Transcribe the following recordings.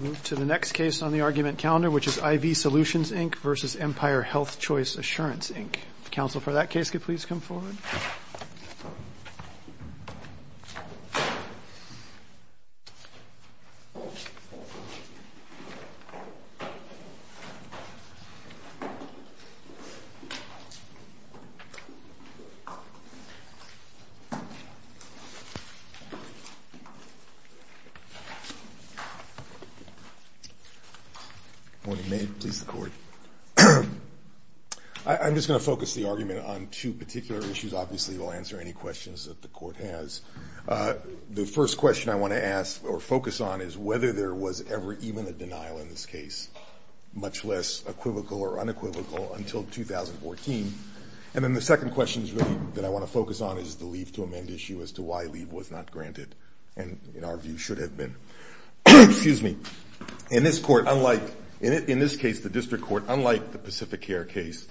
Move to the next case on the argument calendar, which is IV Solutions, Inc. v. Empire Healthchoice Assurance, Inc. Counsel for that case could please come forward. I'm just going to focus the argument on two particular issues. Obviously, we'll answer any questions that the court has. The first question I want to ask or focus on is whether there was ever even a denial in this case, much less equivocal or unequivocal, until 2014. And then the second question that I want to focus on is the leave to amend issue as to why leave was not granted and, in our view, should have been. In this case, the district court, unlike the Pacific Care case,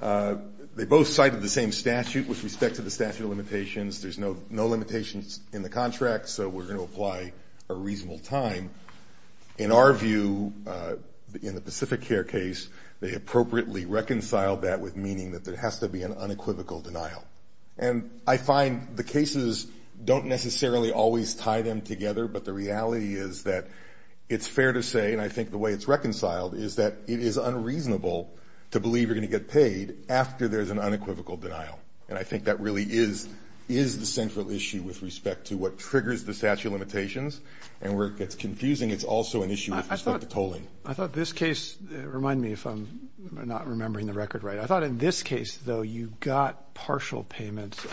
they both cited the same statute with respect to the statute of limitations. There's no limitations in the contract, so we're going to apply a reasonable time. In our view, in the Pacific Care case, they appropriately reconciled that with meaning that there has to be an unequivocal denial. And I find the cases don't necessarily always tie them together, but the reality is that it's fair to say, and I think the way it's reconciled, is that it is unreasonable to believe you're going to get paid after there's an unequivocal denial. And I think that really is the central issue with respect to what triggers the statute of limitations. And where it gets confusing, it's also an issue with respect to tolling. I thought this case, remind me if I'm not remembering the record right. I thought in this case, though, you got partial payments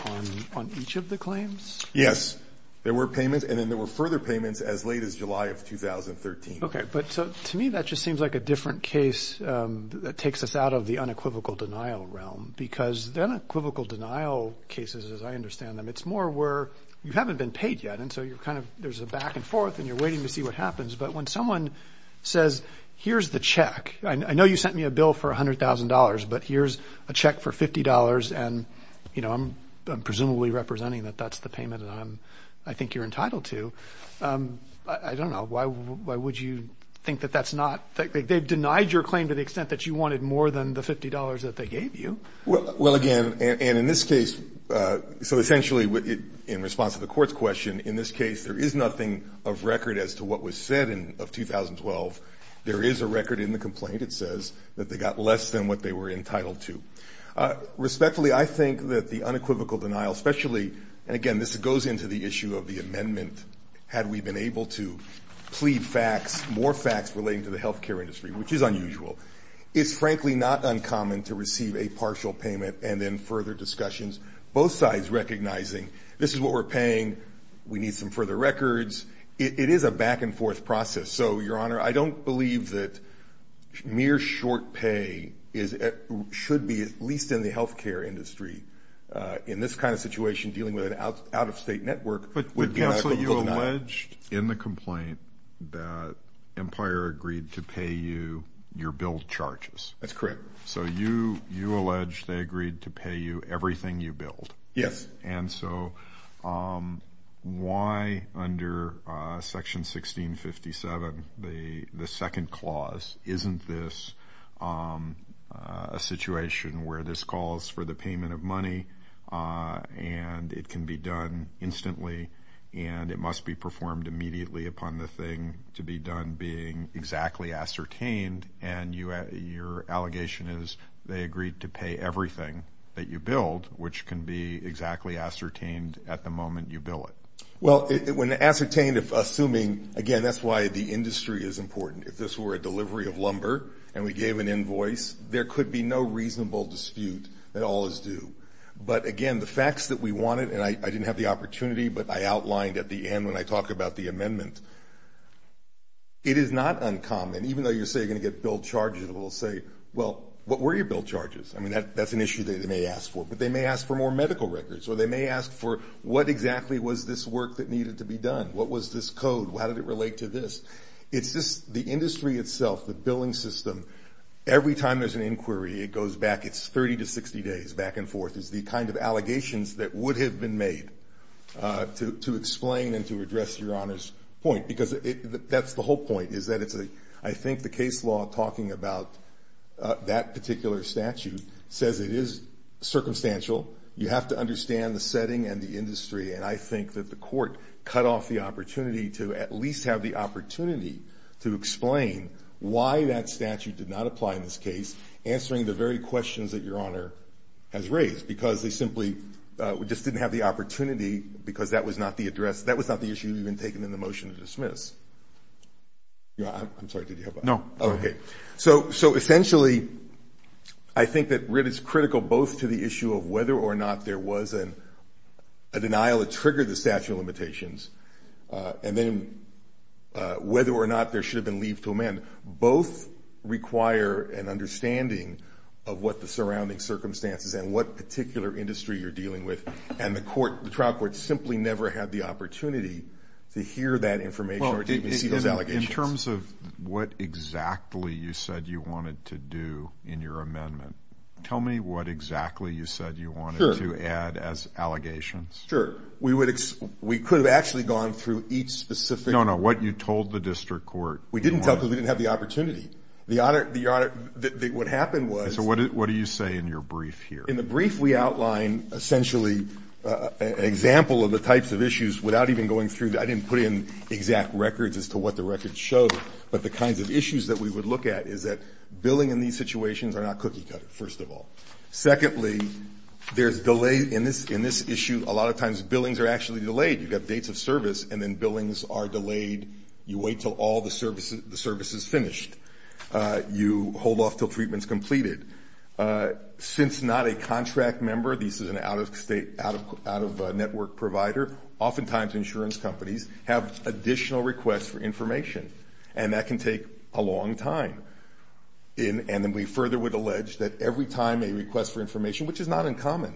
on each of the claims? Yes. There were payments, and then there were further payments as late as July of 2013. Okay, but to me, that just seems like a different case that takes us out of the unequivocal denial realm, because the unequivocal denial cases, as I understand them, it's more where you haven't been paid yet, and so you're kind of, there's a back and forth, and you're waiting to see what happens. But when someone says, here's the check, I know you sent me a bill for $100,000, but here's a check for $50, and, you know, I'm presumably representing that that's the payment that I think you're entitled to. I don't know. Why would you think that that's not? They've denied your claim to the extent that you wanted more than the $50 that they gave you. Well, again, and in this case, so essentially, in response to the Court's question, in this case, there is nothing of record as to what was said in 2012. There is a record in the complaint that says that they got less than what they were entitled to. Respectfully, I think that the unequivocal denial, especially, and again, this goes into the issue of the amendment, had we been able to plead facts, more facts relating to the health care industry, which is unusual, is frankly not uncommon to receive a partial payment and then further discussions, both sides recognizing this is what we're paying, we need some further records. It is a back and forth process. So, Your Honor, I don't believe that mere short pay should be, at least in the health care industry, in this kind of situation, dealing with an out-of-state network. Counsel, you alleged in the complaint that Empire agreed to pay you your billed charges. That's correct. So you allege they agreed to pay you everything you billed. Yes. And so why under Section 1657, the second clause, isn't this a situation where this calls for the payment of money and it can be done instantly and it must be performed immediately upon the thing to be done being exactly ascertained and your allegation is they agreed to pay everything that you billed, which can be exactly ascertained at the moment you bill it. Well, when ascertained, assuming, again, that's why the industry is important. If this were a delivery of lumber and we gave an invoice, there could be no reasonable dispute that all is due. But, again, the facts that we wanted, and I didn't have the opportunity, but I outlined at the end when I talk about the amendment, it is not uncommon, even though you say you're going to get billed charges, it will say, well, what were your billed charges? I mean, that's an issue they may ask for. But they may ask for more medical records, or they may ask for what exactly was this work that needed to be done? What was this code? How did it relate to this? It's just the industry itself, the billing system, every time there's an inquiry, it goes back, it's 30 to 60 days, back and forth, is the kind of allegations that would have been made to explain and to address Your Honor's point. Because that's the whole point, is that I think the case law talking about that particular statute says it is circumstantial. You have to understand the setting and the industry. And I think that the Court cut off the opportunity to at least have the opportunity to explain why that statute did not apply in this case, answering the very questions that Your Honor has raised, because they simply just didn't have the opportunity because that was not the address, I'm sorry, did you have one? No. Okay. So essentially, I think that it is critical both to the issue of whether or not there was a denial that triggered the statute of limitations, and then whether or not there should have been leave to amend. Both require an understanding of what the surrounding circumstances and what particular industry you're dealing with. And the trial court simply never had the opportunity to hear that information or to even see those allegations. In terms of what exactly you said you wanted to do in your amendment, tell me what exactly you said you wanted to add as allegations. Sure. We could have actually gone through each specific. No, no, what you told the district court. We didn't tell because we didn't have the opportunity. What happened was. So what do you say in your brief here? In the brief we outline essentially an example of the types of issues without even going through, I didn't put in exact records as to what the records showed, but the kinds of issues that we would look at is that billing in these situations are not cookie cutter, first of all. Secondly, there's delay in this issue. A lot of times billings are actually delayed. You've got dates of service, and then billings are delayed. You wait until all the service is finished. You hold off until treatment is completed. Since not a contract member, this is an out-of-state, out-of-network provider, oftentimes insurance companies have additional requests for information, and that can take a long time. And then we further would allege that every time a request for information, which is not uncommon,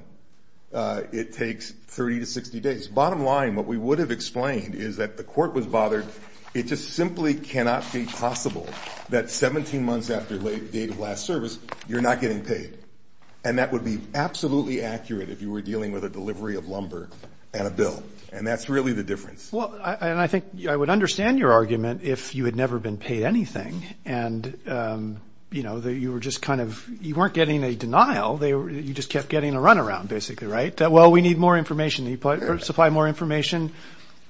it takes 30 to 60 days. Bottom line, what we would have explained is that the court was bothered. It just simply cannot be possible that 17 months after date of last service you're not getting paid. And that would be absolutely accurate if you were dealing with a delivery of lumber and a bill. And that's really the difference. Well, and I think I would understand your argument if you had never been paid anything, and, you know, you were just kind of you weren't getting a denial. You just kept getting a runaround basically, right? Well, we need more information. You supply more information.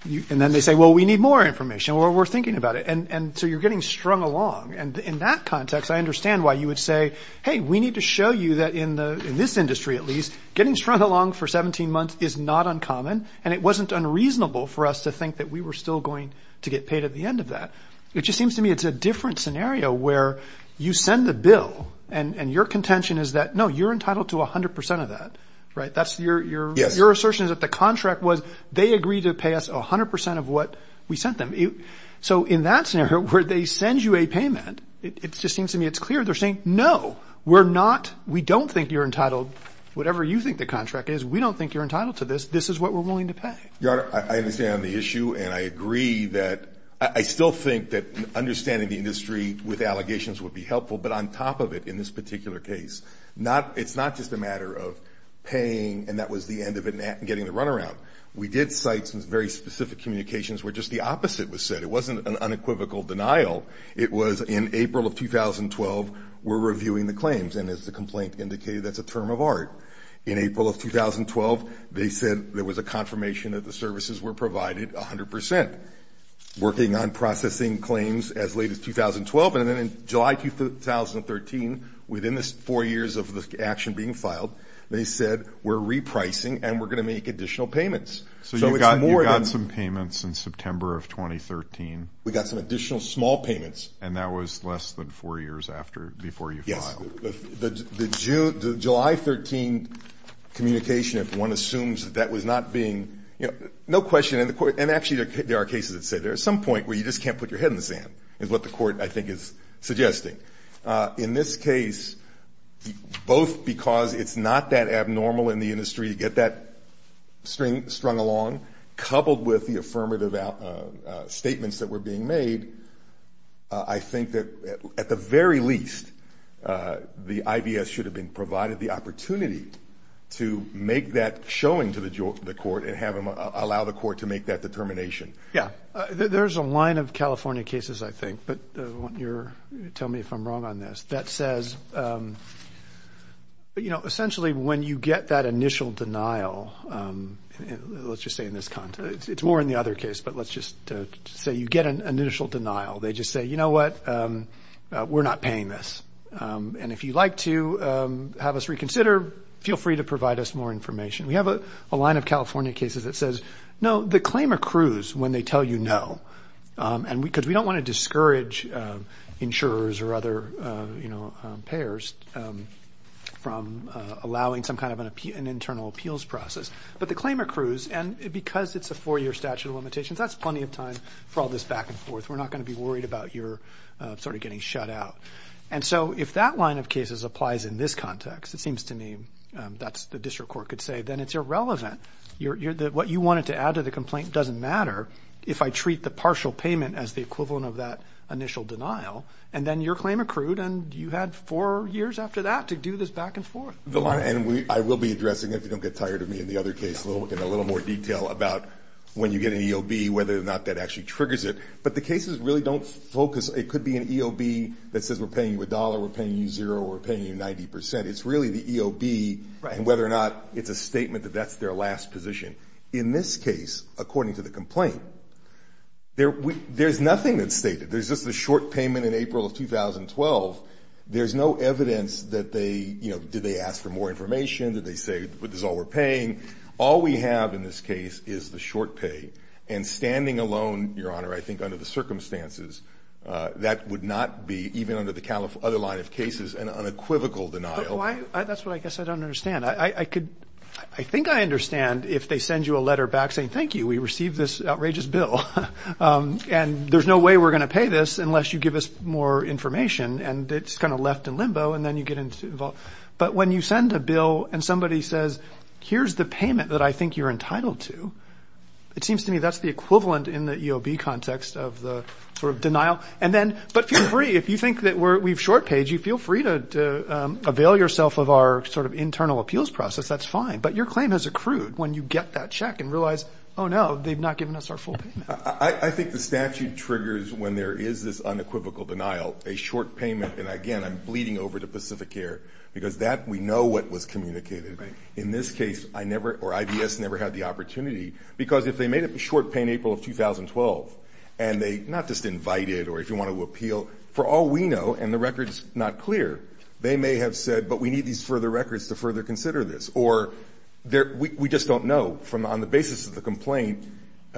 And then they say, well, we need more information. Well, we're thinking about it. And so you're getting strung along. And in that context, I understand why you would say, hey, we need to show you that in this industry at least, getting strung along for 17 months is not uncommon, and it wasn't unreasonable for us to think that we were still going to get paid at the end of that. It just seems to me it's a different scenario where you send the bill, and your contention is that, no, you're entitled to 100 percent of that, right? That's your assertion is that the contract was they agreed to pay us 100 percent of what we sent them. So in that scenario where they send you a payment, it just seems to me it's clear. They're saying, no, we're not, we don't think you're entitled, whatever you think the contract is, we don't think you're entitled to this. This is what we're willing to pay. Your Honor, I understand the issue, and I agree that I still think that understanding the industry with allegations would be helpful, but on top of it in this particular case, it's not just a matter of paying and that was the end of it and getting the runaround. We did cite some very specific communications where just the opposite was said. It wasn't an unequivocal denial. It was in April of 2012, we're reviewing the claims, and as the complaint indicated, that's a term of art. In April of 2012, they said there was a confirmation that the services were provided 100 percent. Working on processing claims as late as 2012, and then in July 2013, within the four years of the action being filed, they said we're repricing and we're going to make additional payments. So you got some payments in September of 2013. We got some additional small payments. And that was less than four years after, before you filed. Yes. The July 13 communication, if one assumes that that was not being, you know, no question, and actually there are cases that say there's some point where you just can't put your head in the sand is what the court, I think, is suggesting. In this case, both because it's not that abnormal in the industry to get that string strung along, coupled with the affirmative statements that were being made, I think that at the very least the IBS should have been provided the opportunity to make that showing to the court and allow the court to make that determination. Yeah. There's a line of California cases, I think, but tell me if I'm wrong on this, that says, you know, essentially when you get that initial denial, let's just say in this context, it's more in the other case, but let's just say you get an initial denial. They just say, you know what, we're not paying this. And if you'd like to have us reconsider, feel free to provide us more information. We have a line of California cases that says, no, the claim accrues when they tell you no, because we don't want to discourage insurers or other, you know, payers from allowing some kind of an internal appeals process. But the claim accrues, and because it's a four-year statute of limitations, that's plenty of time for all this back and forth. We're not going to be worried about your sort of getting shut out. And so if that line of cases applies in this context, it seems to me that's the district court could say, then it's irrelevant. What you wanted to add to the complaint doesn't matter if I treat the partial payment as the equivalent of that initial denial, and then your claim accrued and you had four years after that to do this back and forth. And I will be addressing it, if you don't get tired of me, in the other case, in a little more detail about when you get an EOB, whether or not that actually triggers it. But the cases really don't focus. It could be an EOB that says we're paying you a dollar, we're paying you zero, we're paying you 90 percent. It's really the EOB and whether or not it's a statement that that's their last position. In this case, according to the complaint, there's nothing that's stated. There's just the short payment in April of 2012. There's no evidence that they, you know, did they ask for more information, did they say this is all we're paying. All we have in this case is the short pay. And standing alone, Your Honor, I think under the circumstances, that would not be, even under the other line of cases, an unequivocal denial. That's what I guess I don't understand. I think I understand if they send you a letter back saying thank you, we received this outrageous bill, and there's no way we're going to pay this unless you give us more information, and it's kind of left in limbo and then you get involved. But when you send a bill and somebody says here's the payment that I think you're entitled to, it seems to me that's the equivalent in the EOB context of the sort of denial. And then, but feel free, if you think that we've short paid you, feel free to avail yourself of our sort of internal appeals process. That's fine. But your claim has accrued when you get that check and realize, oh, no, they've not given us our full payment. I think the statute triggers when there is this unequivocal denial, a short payment. And, again, I'm bleeding over to Pacific Air because that we know what was communicated. In this case, I never or IBS never had the opportunity, because if they made a short pay in April of 2012 and they not just invited or if you want to appeal, for all we know, and the record is not clear, they may have said, but we need these further records to further consider this. Or we just don't know. On the basis of the complaint,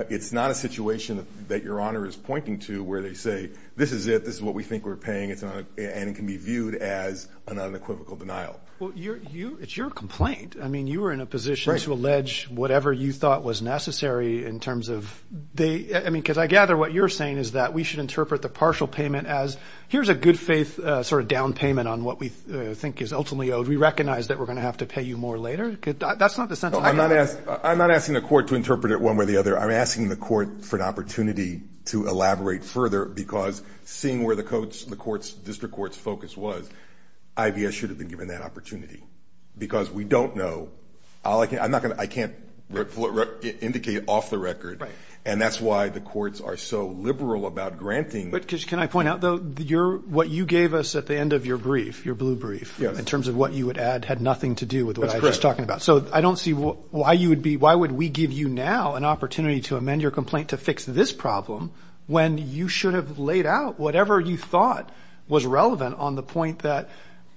it's not a situation that Your Honor is pointing to where they say, this is it, this is what we think we're paying, and it can be viewed as an unequivocal denial. Well, it's your complaint. I mean, you were in a position to allege whatever you thought was necessary in terms of they – I mean, because I gather what you're saying is that we should interpret the partial payment as, here's a good-faith sort of down payment on what we think is ultimately owed. We recognize that we're going to have to pay you more later. That's not the sense I have. I'm not asking the court to interpret it one way or the other. I'm asking the court for an opportunity to elaborate further, because seeing where the district court's focus was, IVS should have been given that opportunity, because we don't know. I can't indicate off the record, and that's why the courts are so liberal about granting. But can I point out, though, what you gave us at the end of your brief, your blue brief, in terms of what you would add had nothing to do with what I was talking about. That's correct. So I don't see why you would be – why would we give you now an opportunity to amend your complaint to fix this problem when you should have laid out whatever you thought was relevant on the point that,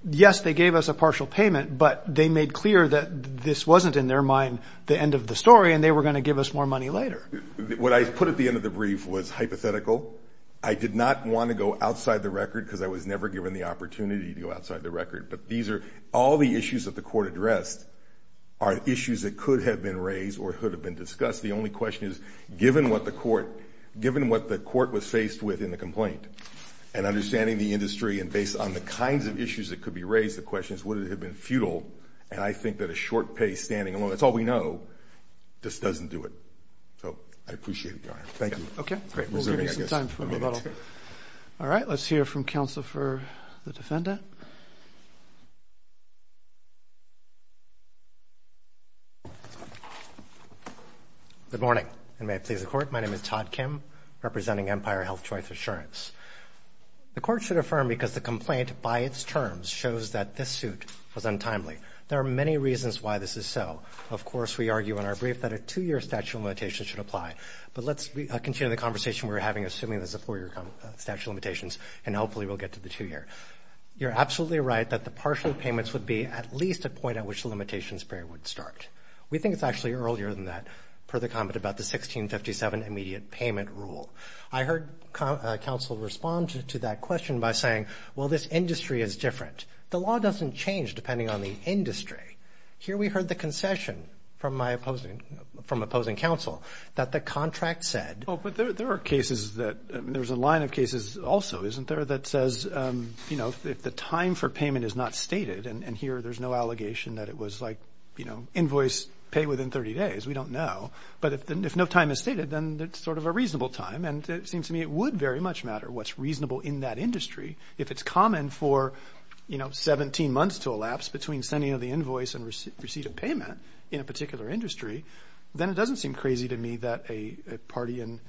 yes, they gave us a partial payment, but they made clear that this wasn't, in their mind, the end of the story, and they were going to give us more money later. What I put at the end of the brief was hypothetical. I did not want to go outside the record, because I was never given the opportunity to go outside the record. But these are – all the issues that the court addressed are issues that could have been raised or could have been discussed. The only question is, given what the court was faced with in the complaint and understanding the industry and based on the kinds of issues that could be raised, the question is would it have been futile. And I think that a short pay standing alone – that's all we know – just doesn't do it. So I appreciate it, Your Honor. Thank you. Okay. We'll give you some time for rebuttal. All right. Let's hear from counsel for the defendant. Your Honor. Good morning, and may it please the Court. My name is Todd Kim, representing Empire Health Choice Assurance. The Court should affirm because the complaint, by its terms, shows that this suit was untimely. There are many reasons why this is so. Of course, we argue in our brief that a two-year statute of limitations should apply. But let's continue the conversation we were having, assuming there's a four-year statute of limitations, and hopefully we'll get to the two-year. You're absolutely right that the partial payments would be at least a point at which the limitations period would start. We think it's actually earlier than that, per the comment about the 1657 immediate payment rule. I heard counsel respond to that question by saying, well, this industry is different. The law doesn't change depending on the industry. Here we heard the concession from my opposing – from opposing counsel that the contract said – isn't there – that says, you know, if the time for payment is not stated, and here there's no allegation that it was like, you know, invoice, pay within 30 days, we don't know. But if no time is stated, then it's sort of a reasonable time, and it seems to me it would very much matter what's reasonable in that industry. If it's common for, you know, 17 months to elapse between sending of the invoice and receipt of payment in a particular industry, then it doesn't seem crazy to me that a party in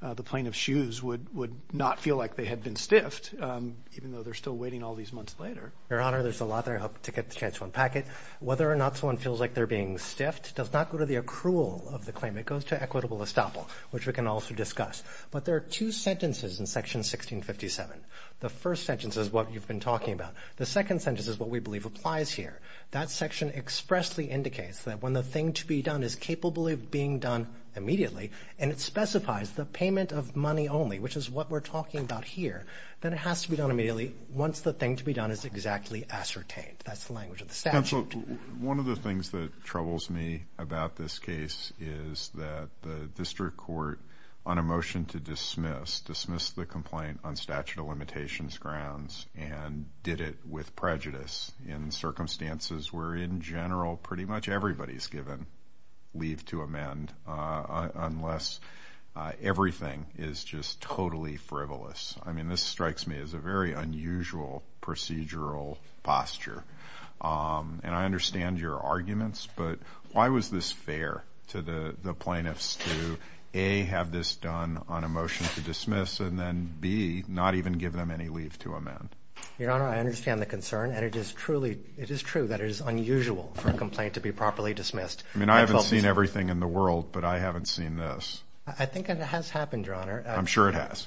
the plain of shoes would not feel like they had been stiffed, even though they're still waiting all these months later. Your Honor, there's a lot there. I hope to get the chance to unpack it. Whether or not someone feels like they're being stiffed does not go to the accrual of the claim. It goes to equitable estoppel, which we can also discuss. But there are two sentences in Section 1657. The first sentence is what you've been talking about. The second sentence is what we believe applies here. That section expressly indicates that when the thing to be done is capable of being done immediately, and it specifies the payment of money only, which is what we're talking about here, then it has to be done immediately once the thing to be done is exactly ascertained. That's the language of the statute. Counsel, one of the things that troubles me about this case is that the district court, on a motion to dismiss, dismissed the complaint on statute of limitations grounds and did it with prejudice in circumstances where in general pretty much everybody's given leave to amend unless everything is just totally frivolous. I mean, this strikes me as a very unusual procedural posture. And I understand your arguments, but why was this fair to the plaintiffs to, A, have this done on a motion to dismiss and then, B, not even give them any leave to amend? Your Honor, I understand the concern, and it is true that it is unusual for a complaint to be properly dismissed. I mean, I haven't seen everything in the world, but I haven't seen this. I think it has happened, Your Honor. I'm sure it has.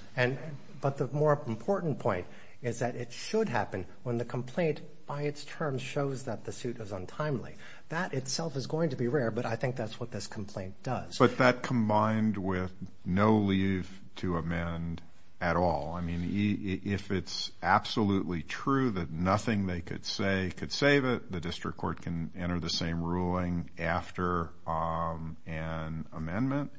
But the more important point is that it should happen when the complaint by its terms shows that the suit is untimely. That itself is going to be rare, but I think that's what this complaint does. But that combined with no leave to amend at all. I mean, if it's absolutely true that nothing they could say could save it, the district court can enter the same ruling after an amendment.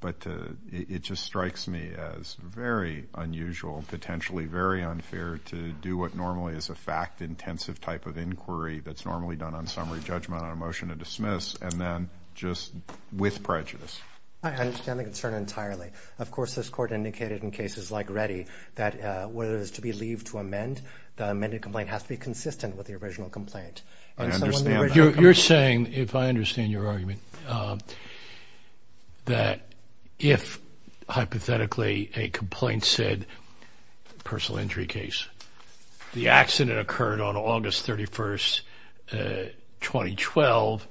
But it just strikes me as very unusual, potentially very unfair, to do what normally is a fact-intensive type of inquiry that's normally done on summary judgment on a motion to dismiss and then just with prejudice. I understand the concern entirely. Of course, this Court indicated in cases like Reddy that whether there's to be leave to amend, the amended complaint has to be consistent with the original complaint. I understand that. You're saying, if I understand your argument, that if hypothetically a complaint said personal injury case, the accident occurred on August 31st, 2012,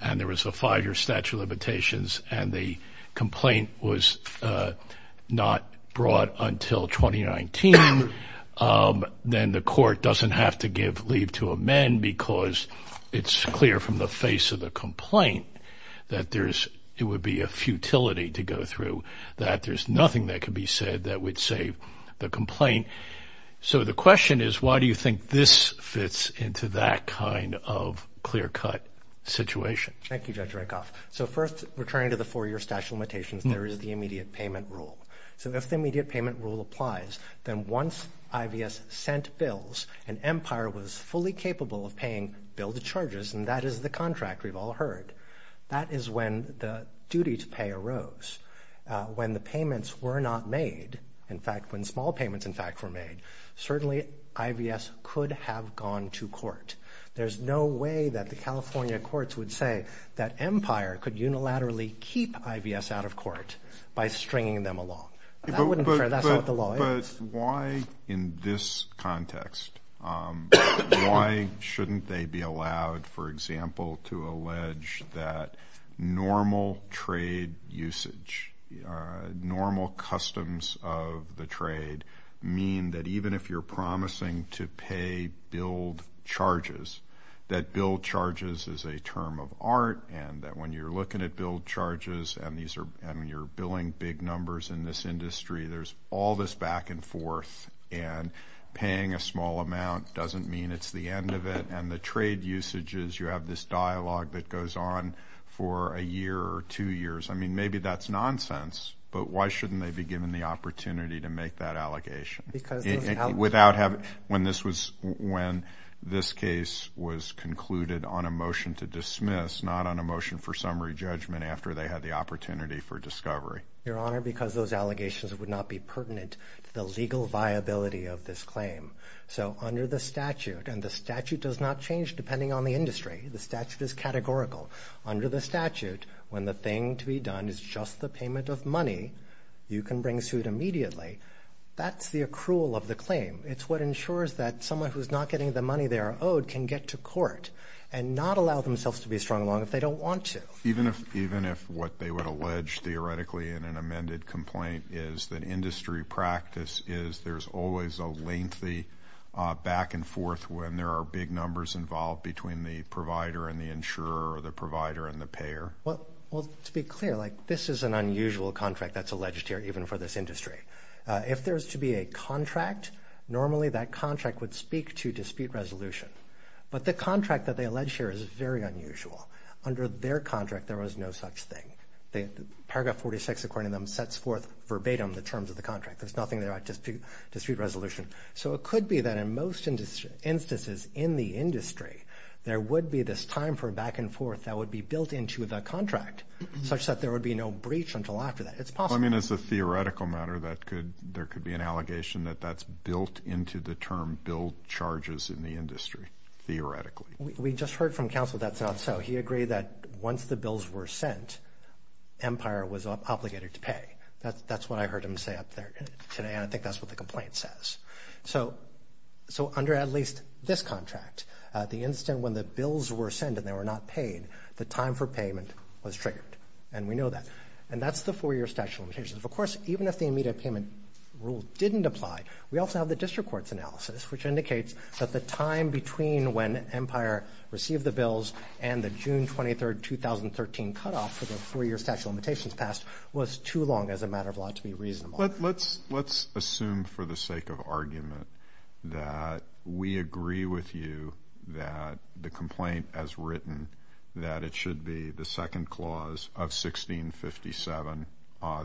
and there was a five-year statute of limitations and the complaint was not brought until 2019, then the Court doesn't have to give leave to amend because it's clear from the face of the complaint that it would be a futility to go through, that there's nothing that could be said that would save the complaint. So the question is, why do you think this fits into that kind of clear-cut situation? Thank you, Judge Rehkoff. So first, returning to the four-year statute of limitations, there is the immediate payment rule. So if the immediate payment rule applies, then once IVS sent bills and Empire was fully capable of paying bill to charges, and that is the contract we've all heard, that is when the duty to pay arose. When the payments were not made, in fact, when small payments, in fact, were made, certainly IVS could have gone to court. There's no way that the California courts would say that Empire could unilaterally keep IVS out of court by stringing them along. That wouldn't be fair. That's not the law. But why in this context, why shouldn't they be allowed, for example, to allege that normal trade usage, normal customs of the trade, mean that even if you're promising to pay billed charges, that billed charges is a term of art and that when you're looking at billed charges and you're billing big numbers in this industry, there's all this back and forth. And paying a small amount doesn't mean it's the end of it. And the trade usages, you have this dialogue that goes on for a year or two years. I mean, maybe that's nonsense, but why shouldn't they be given the opportunity to make that allegation? When this case was concluded on a motion to dismiss, not on a motion for summary judgment after they had the opportunity for discovery. Your Honor, because those allegations would not be pertinent to the legal viability of this claim. So under the statute, and the statute does not change depending on the industry. The statute is categorical. Under the statute, when the thing to be done is just the payment of money, you can bring suit immediately. That's the accrual of the claim. It's what ensures that someone who's not getting the money they are owed can get to court and not allow themselves to be strung along if they don't want to. Even if what they would allege theoretically in an amended complaint is that industry practice is there's always a lengthy back and forth when there are big numbers involved between the provider and the insurer or the provider and the payer? Well, to be clear, this is an unusual contract that's alleged here, even for this industry. If there's to be a contract, normally that contract would speak to dispute resolution. But the contract that they allege here is very unusual. Under their contract, there was no such thing. Paragraph 46, according to them, sets forth verbatim the terms of the contract. There's nothing there to dispute resolution. So it could be that in most instances in the industry, there would be this time for back and forth that would be built into the contract such that there would be no breach until after that. It's possible. I mean, as a theoretical matter, there could be an allegation that that's built into the term billed charges in the industry, theoretically. We just heard from counsel that's not so. He agreed that once the bills were sent, Empire was obligated to pay. That's what I heard him say up there today, and I think that's what the complaint says. So under at least this contract, the instant when the bills were sent and they were not paid, the time for payment was triggered, and we know that. And that's the four-year statute of limitations. Of course, even if the immediate payment rule didn't apply, we also have the district court's analysis, which indicates that the time between when Empire received the bills and the June 23, 2013 cutoff for the four-year statute of limitations passed was too long as a matter of law to be reasonable. Let's assume for the sake of argument that we agree with you that the complaint as written, that it should be the second clause of 1657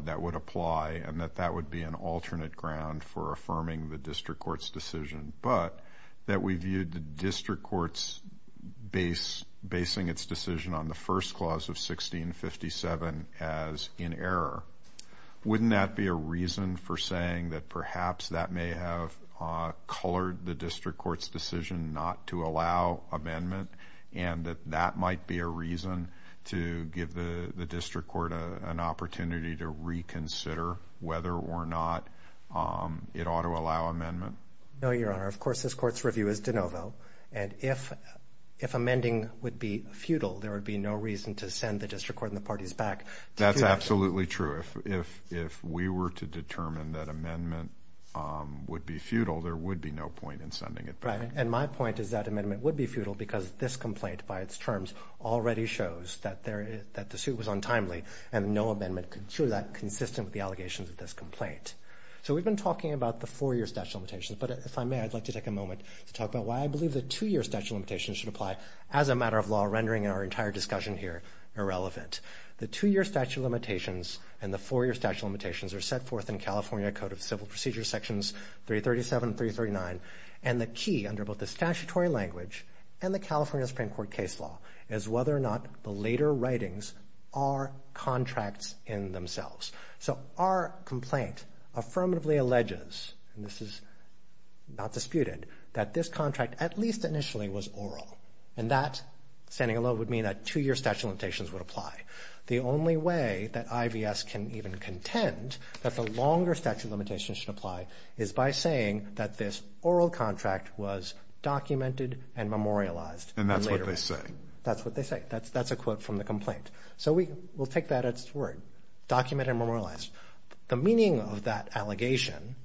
that would apply and that that would be an alternate ground for affirming the district court's decision, but that we viewed the district court's basing its decision on the first clause of 1657 as in error. Wouldn't that be a reason for saying that perhaps that may have colored the district court's decision not to allow amendment and that that might be a reason to give the district court an opportunity to reconsider whether or not it ought to allow amendment? No, Your Honor. Of course, this court's review is de novo. And if amending would be futile, there would be no reason to send the district court and the parties back. That's absolutely true. If we were to determine that amendment would be futile, there would be no point in sending it back. And my point is that amendment would be futile because this complaint, by its terms, already shows that the suit was untimely and no amendment could cure that consistent with the allegations of this complaint. So we've been talking about the four-year statute of limitations, but if I may, I'd like to take a moment to talk about why I believe the two-year statute of limitations should apply as a matter of law, rendering our entire discussion here irrelevant. The two-year statute of limitations and the four-year statute of limitations are set forth in California Code of Civil Procedure Sections 337 and 339, and the key under both the statutory language and the California Supreme Court case law is whether or not the later writings are contracts in themselves. So our complaint affirmatively alleges, and this is not disputed, that this contract at least initially was oral, and that, standing alone, would mean that two-year statute of limitations would apply. The only way that IVS can even contend that the longer statute of limitations should apply is by saying that this oral contract was documented and memorialized. And that's what they say. That's what they say. That's a quote from the complaint. So we'll take that at its word, documented and memorialized. The meaning of that allegation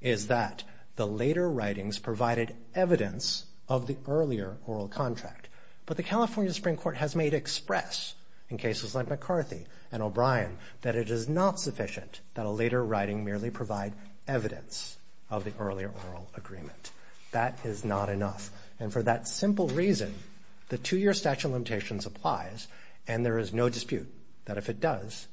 is that the later writings provided evidence of the earlier oral contract, but the California Supreme Court has made express, in cases like McCarthy and O'Brien, that it is not sufficient that a later writing merely provide evidence of the earlier oral agreement. That is not enough. And for that simple reason, the two-year statute of limitations applies, and there is no dispute that if it does,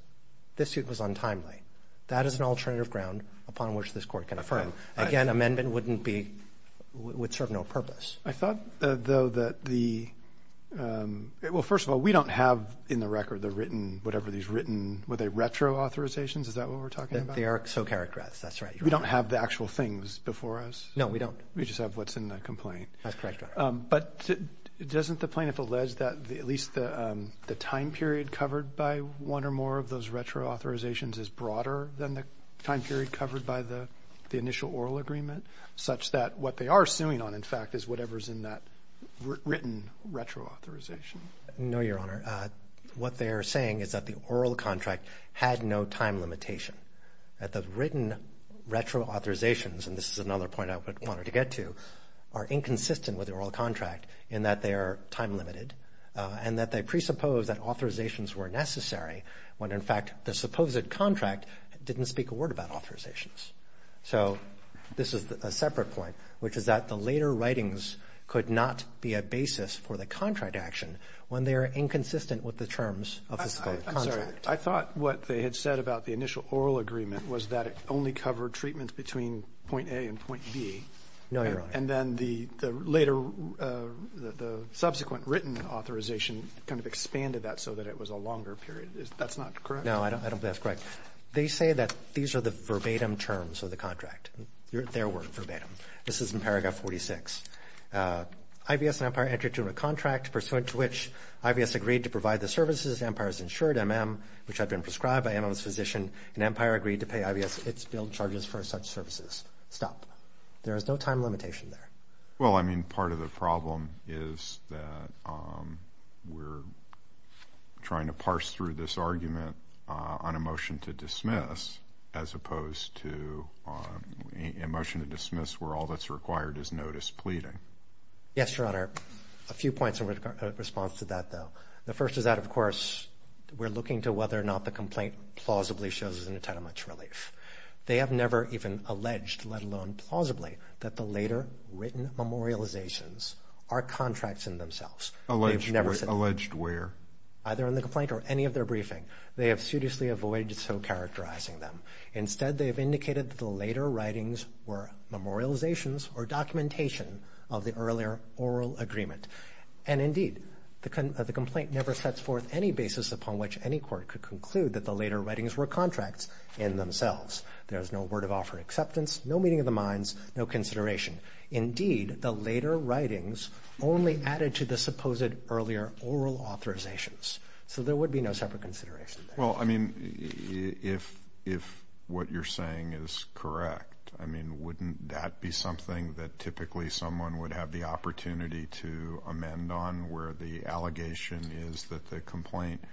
this suit was untimely. That is an alternative ground upon which this Court can affirm. Again, amendment wouldn't be – would serve no purpose. I thought, though, that the – well, first of all, we don't have in the record the written – whatever these written – were they retroauthorizations? Is that what we're talking about? They are so characterized. That's right. We don't have the actual things before us? No, we don't. We just have what's in the complaint. That's correct. But doesn't the plaintiff allege that at least the time period covered by one or more of those retroauthorizations is broader than the time period covered by the initial oral agreement, such that what they are suing on, in fact, is whatever is in that written retroauthorization? No, Your Honor. What they are saying is that the oral contract had no time limitation, that the written retroauthorizations – and this is another point I wanted to get to – are inconsistent with the oral contract in that they are time limited and that they presuppose that authorizations were necessary when, in fact, the supposed contract didn't speak a word about authorizations. So this is a separate point, which is that the later writings could not be a basis for the contract action when they are inconsistent with the terms of the contract. I'm sorry. I thought what they had said about the initial oral agreement was that it only covered treatments between point A and point B. No, Your Honor. And then the subsequent written authorization kind of expanded that so that it was a longer period. That's not correct? No, I don't think that's correct. They say that these are the verbatim terms of the contract. They're verbatim. This is in Paragraph 46. IVS and Empire entered into a contract pursuant to which IVS agreed to provide the services to Empire's insured MM, which had been prescribed by MM's physician, and Empire agreed to pay IVS its billed charges for such services. Stop. There is no time limitation there. Well, I mean, part of the problem is that we're trying to parse through this argument on a motion to dismiss as opposed to a motion to dismiss where all that's required is notice pleading. Yes, Your Honor. A few points in response to that, though. The first is that, of course, we're looking to whether or not the complaint plausibly shows us an entitlement to relief. They have never even alleged, let alone plausibly, that the later written memorializations are contracts in themselves. Alleged where? Either in the complaint or any of their briefing. They have seriously avoided so characterizing them. Instead, they have indicated that the later writings were memorializations or documentation of the earlier oral agreement. And, indeed, the complaint never sets forth any basis upon which any court could conclude that the later writings were contracts in themselves. There is no word of offer acceptance, no meeting of the minds, no consideration. Indeed, the later writings only added to the supposed earlier oral authorizations. So there would be no separate consideration there. Well, I mean, if what you're saying is correct, I mean, wouldn't that be something that typically someone would have the opportunity to amend on where the allegation is that the complaint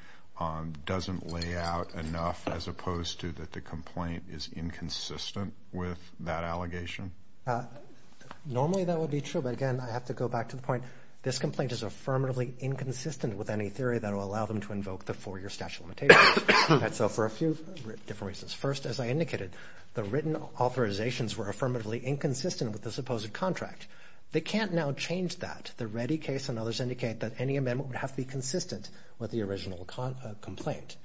doesn't lay out enough as opposed to that the complaint is inconsistent with that allegation? Normally, that would be true. But, again, I have to go back to the point. This complaint is affirmatively inconsistent with any theory that will allow them to invoke the four-year statute of limitations. And so for a few different reasons. First, as I indicated, the written authorizations were affirmatively inconsistent with the supposed contract. They can't now change that. The Reddy case and others indicate that any amendment would have to be consistent with the original complaint.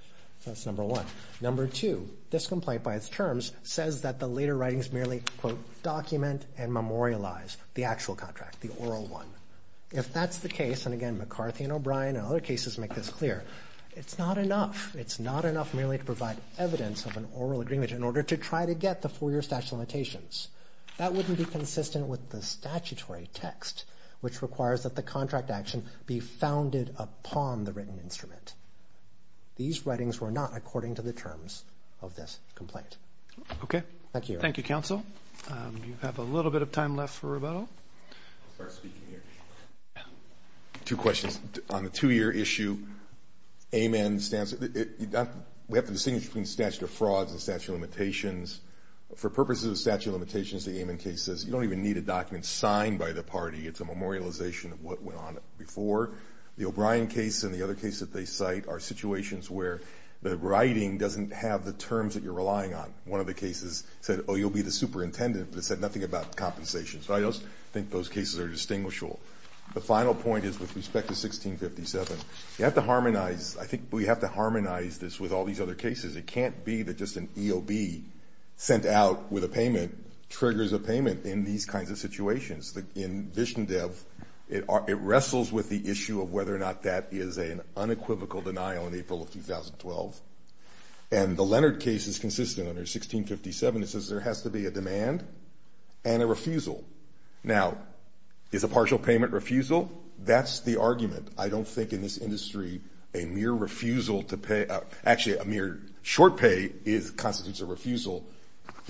That's number one. Number two, this complaint by its terms says that the later writings merely document and memorialize the actual contract, the oral one. If that's the case, and, again, McCarthy and O'Brien and other cases make this clear, it's not enough. It's not enough merely to provide evidence of an oral agreement in order to try to get the four-year statute of limitations. That wouldn't be consistent with the statutory text, which requires that the contract action be founded upon the written instrument. These writings were not according to the terms of this complaint. Okay. Thank you. Thank you, Counsel. You have a little bit of time left for rebuttal. I'll start speaking here. Two questions. On the two-year issue, AMEN stands – we have to distinguish between statute of frauds and statute of limitations. For purposes of statute of limitations, the AMEN case says, you don't even need a document signed by the party. It's a memorialization of what went on before. The O'Brien case and the other case that they cite are situations where the writing doesn't have the terms that you're relying on. One of the cases said, oh, you'll be the superintendent, but it said nothing about compensation. So I don't think those cases are distinguishable. The final point is, with respect to 1657, you have to harmonize – I think we have to harmonize this with all these other cases. It can't be that just an EOB sent out with a payment triggers a payment in these kinds of situations. In Vishnodev, it wrestles with the issue of whether or not that is an unequivocal denial in April of 2012. And the Leonard case is consistent under 1657. It says there has to be a demand and a refusal. Now, is a partial payment refusal? That's the argument. I don't think in this industry a mere refusal to pay – actually, a mere short pay constitutes a refusal.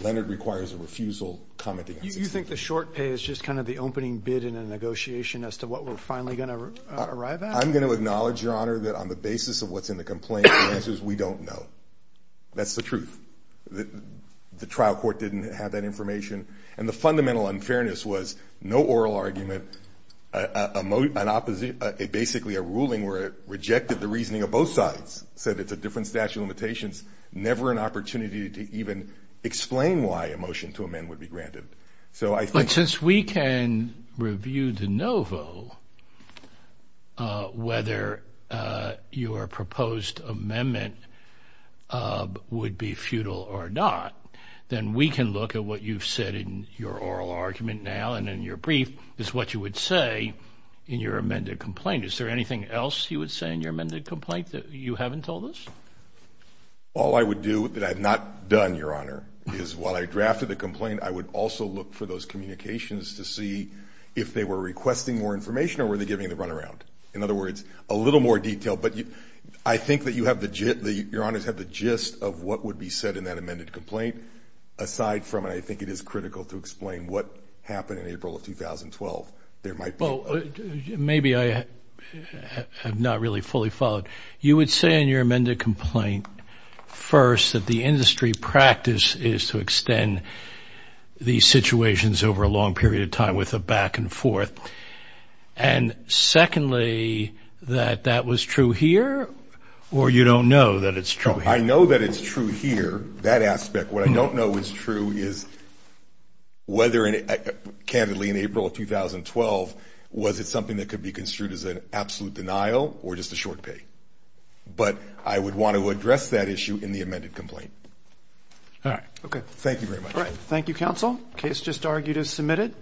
Leonard requires a refusal commenting on 1657. You think the short pay is just kind of the opening bid in a negotiation as to what we're finally going to arrive at? I'm going to acknowledge, Your Honor, that on the basis of what's in the complaint, the answer is we don't know. That's the truth. The trial court didn't have that information. And the fundamental unfairness was no oral argument, basically a ruling where it rejected the reasoning of both sides, said it's a different statute of limitations, never an opportunity to even explain why a motion to amend would be granted. But since we can review de novo whether your proposed amendment would be futile or not, then we can look at what you've said in your oral argument now and in your brief is what you would say in your amended complaint. Is there anything else you would say in your amended complaint that you haven't told us? All I would do that I've not done, Your Honor, is while I drafted the complaint, I would also look for those communications to see if they were requesting more information or were they giving the runaround. In other words, a little more detail. But I think that you have the gist of what would be said in that amended complaint, aside from I think it is critical to explain what happened in April of 2012. Maybe I have not really fully followed. You would say in your amended complaint, first, that the industry practice is to extend these situations over a long period of time with a back and forth. And secondly, that that was true here or you don't know that it's true here? I know that it's true here, that aspect. What I don't know is true is whether, candidly, in April of 2012, was it something that could be construed as an absolute denial or just a short pay. But I would want to address that issue in the amended complaint. All right. Thank you very much. Thank you, counsel. Case just argued as submitted.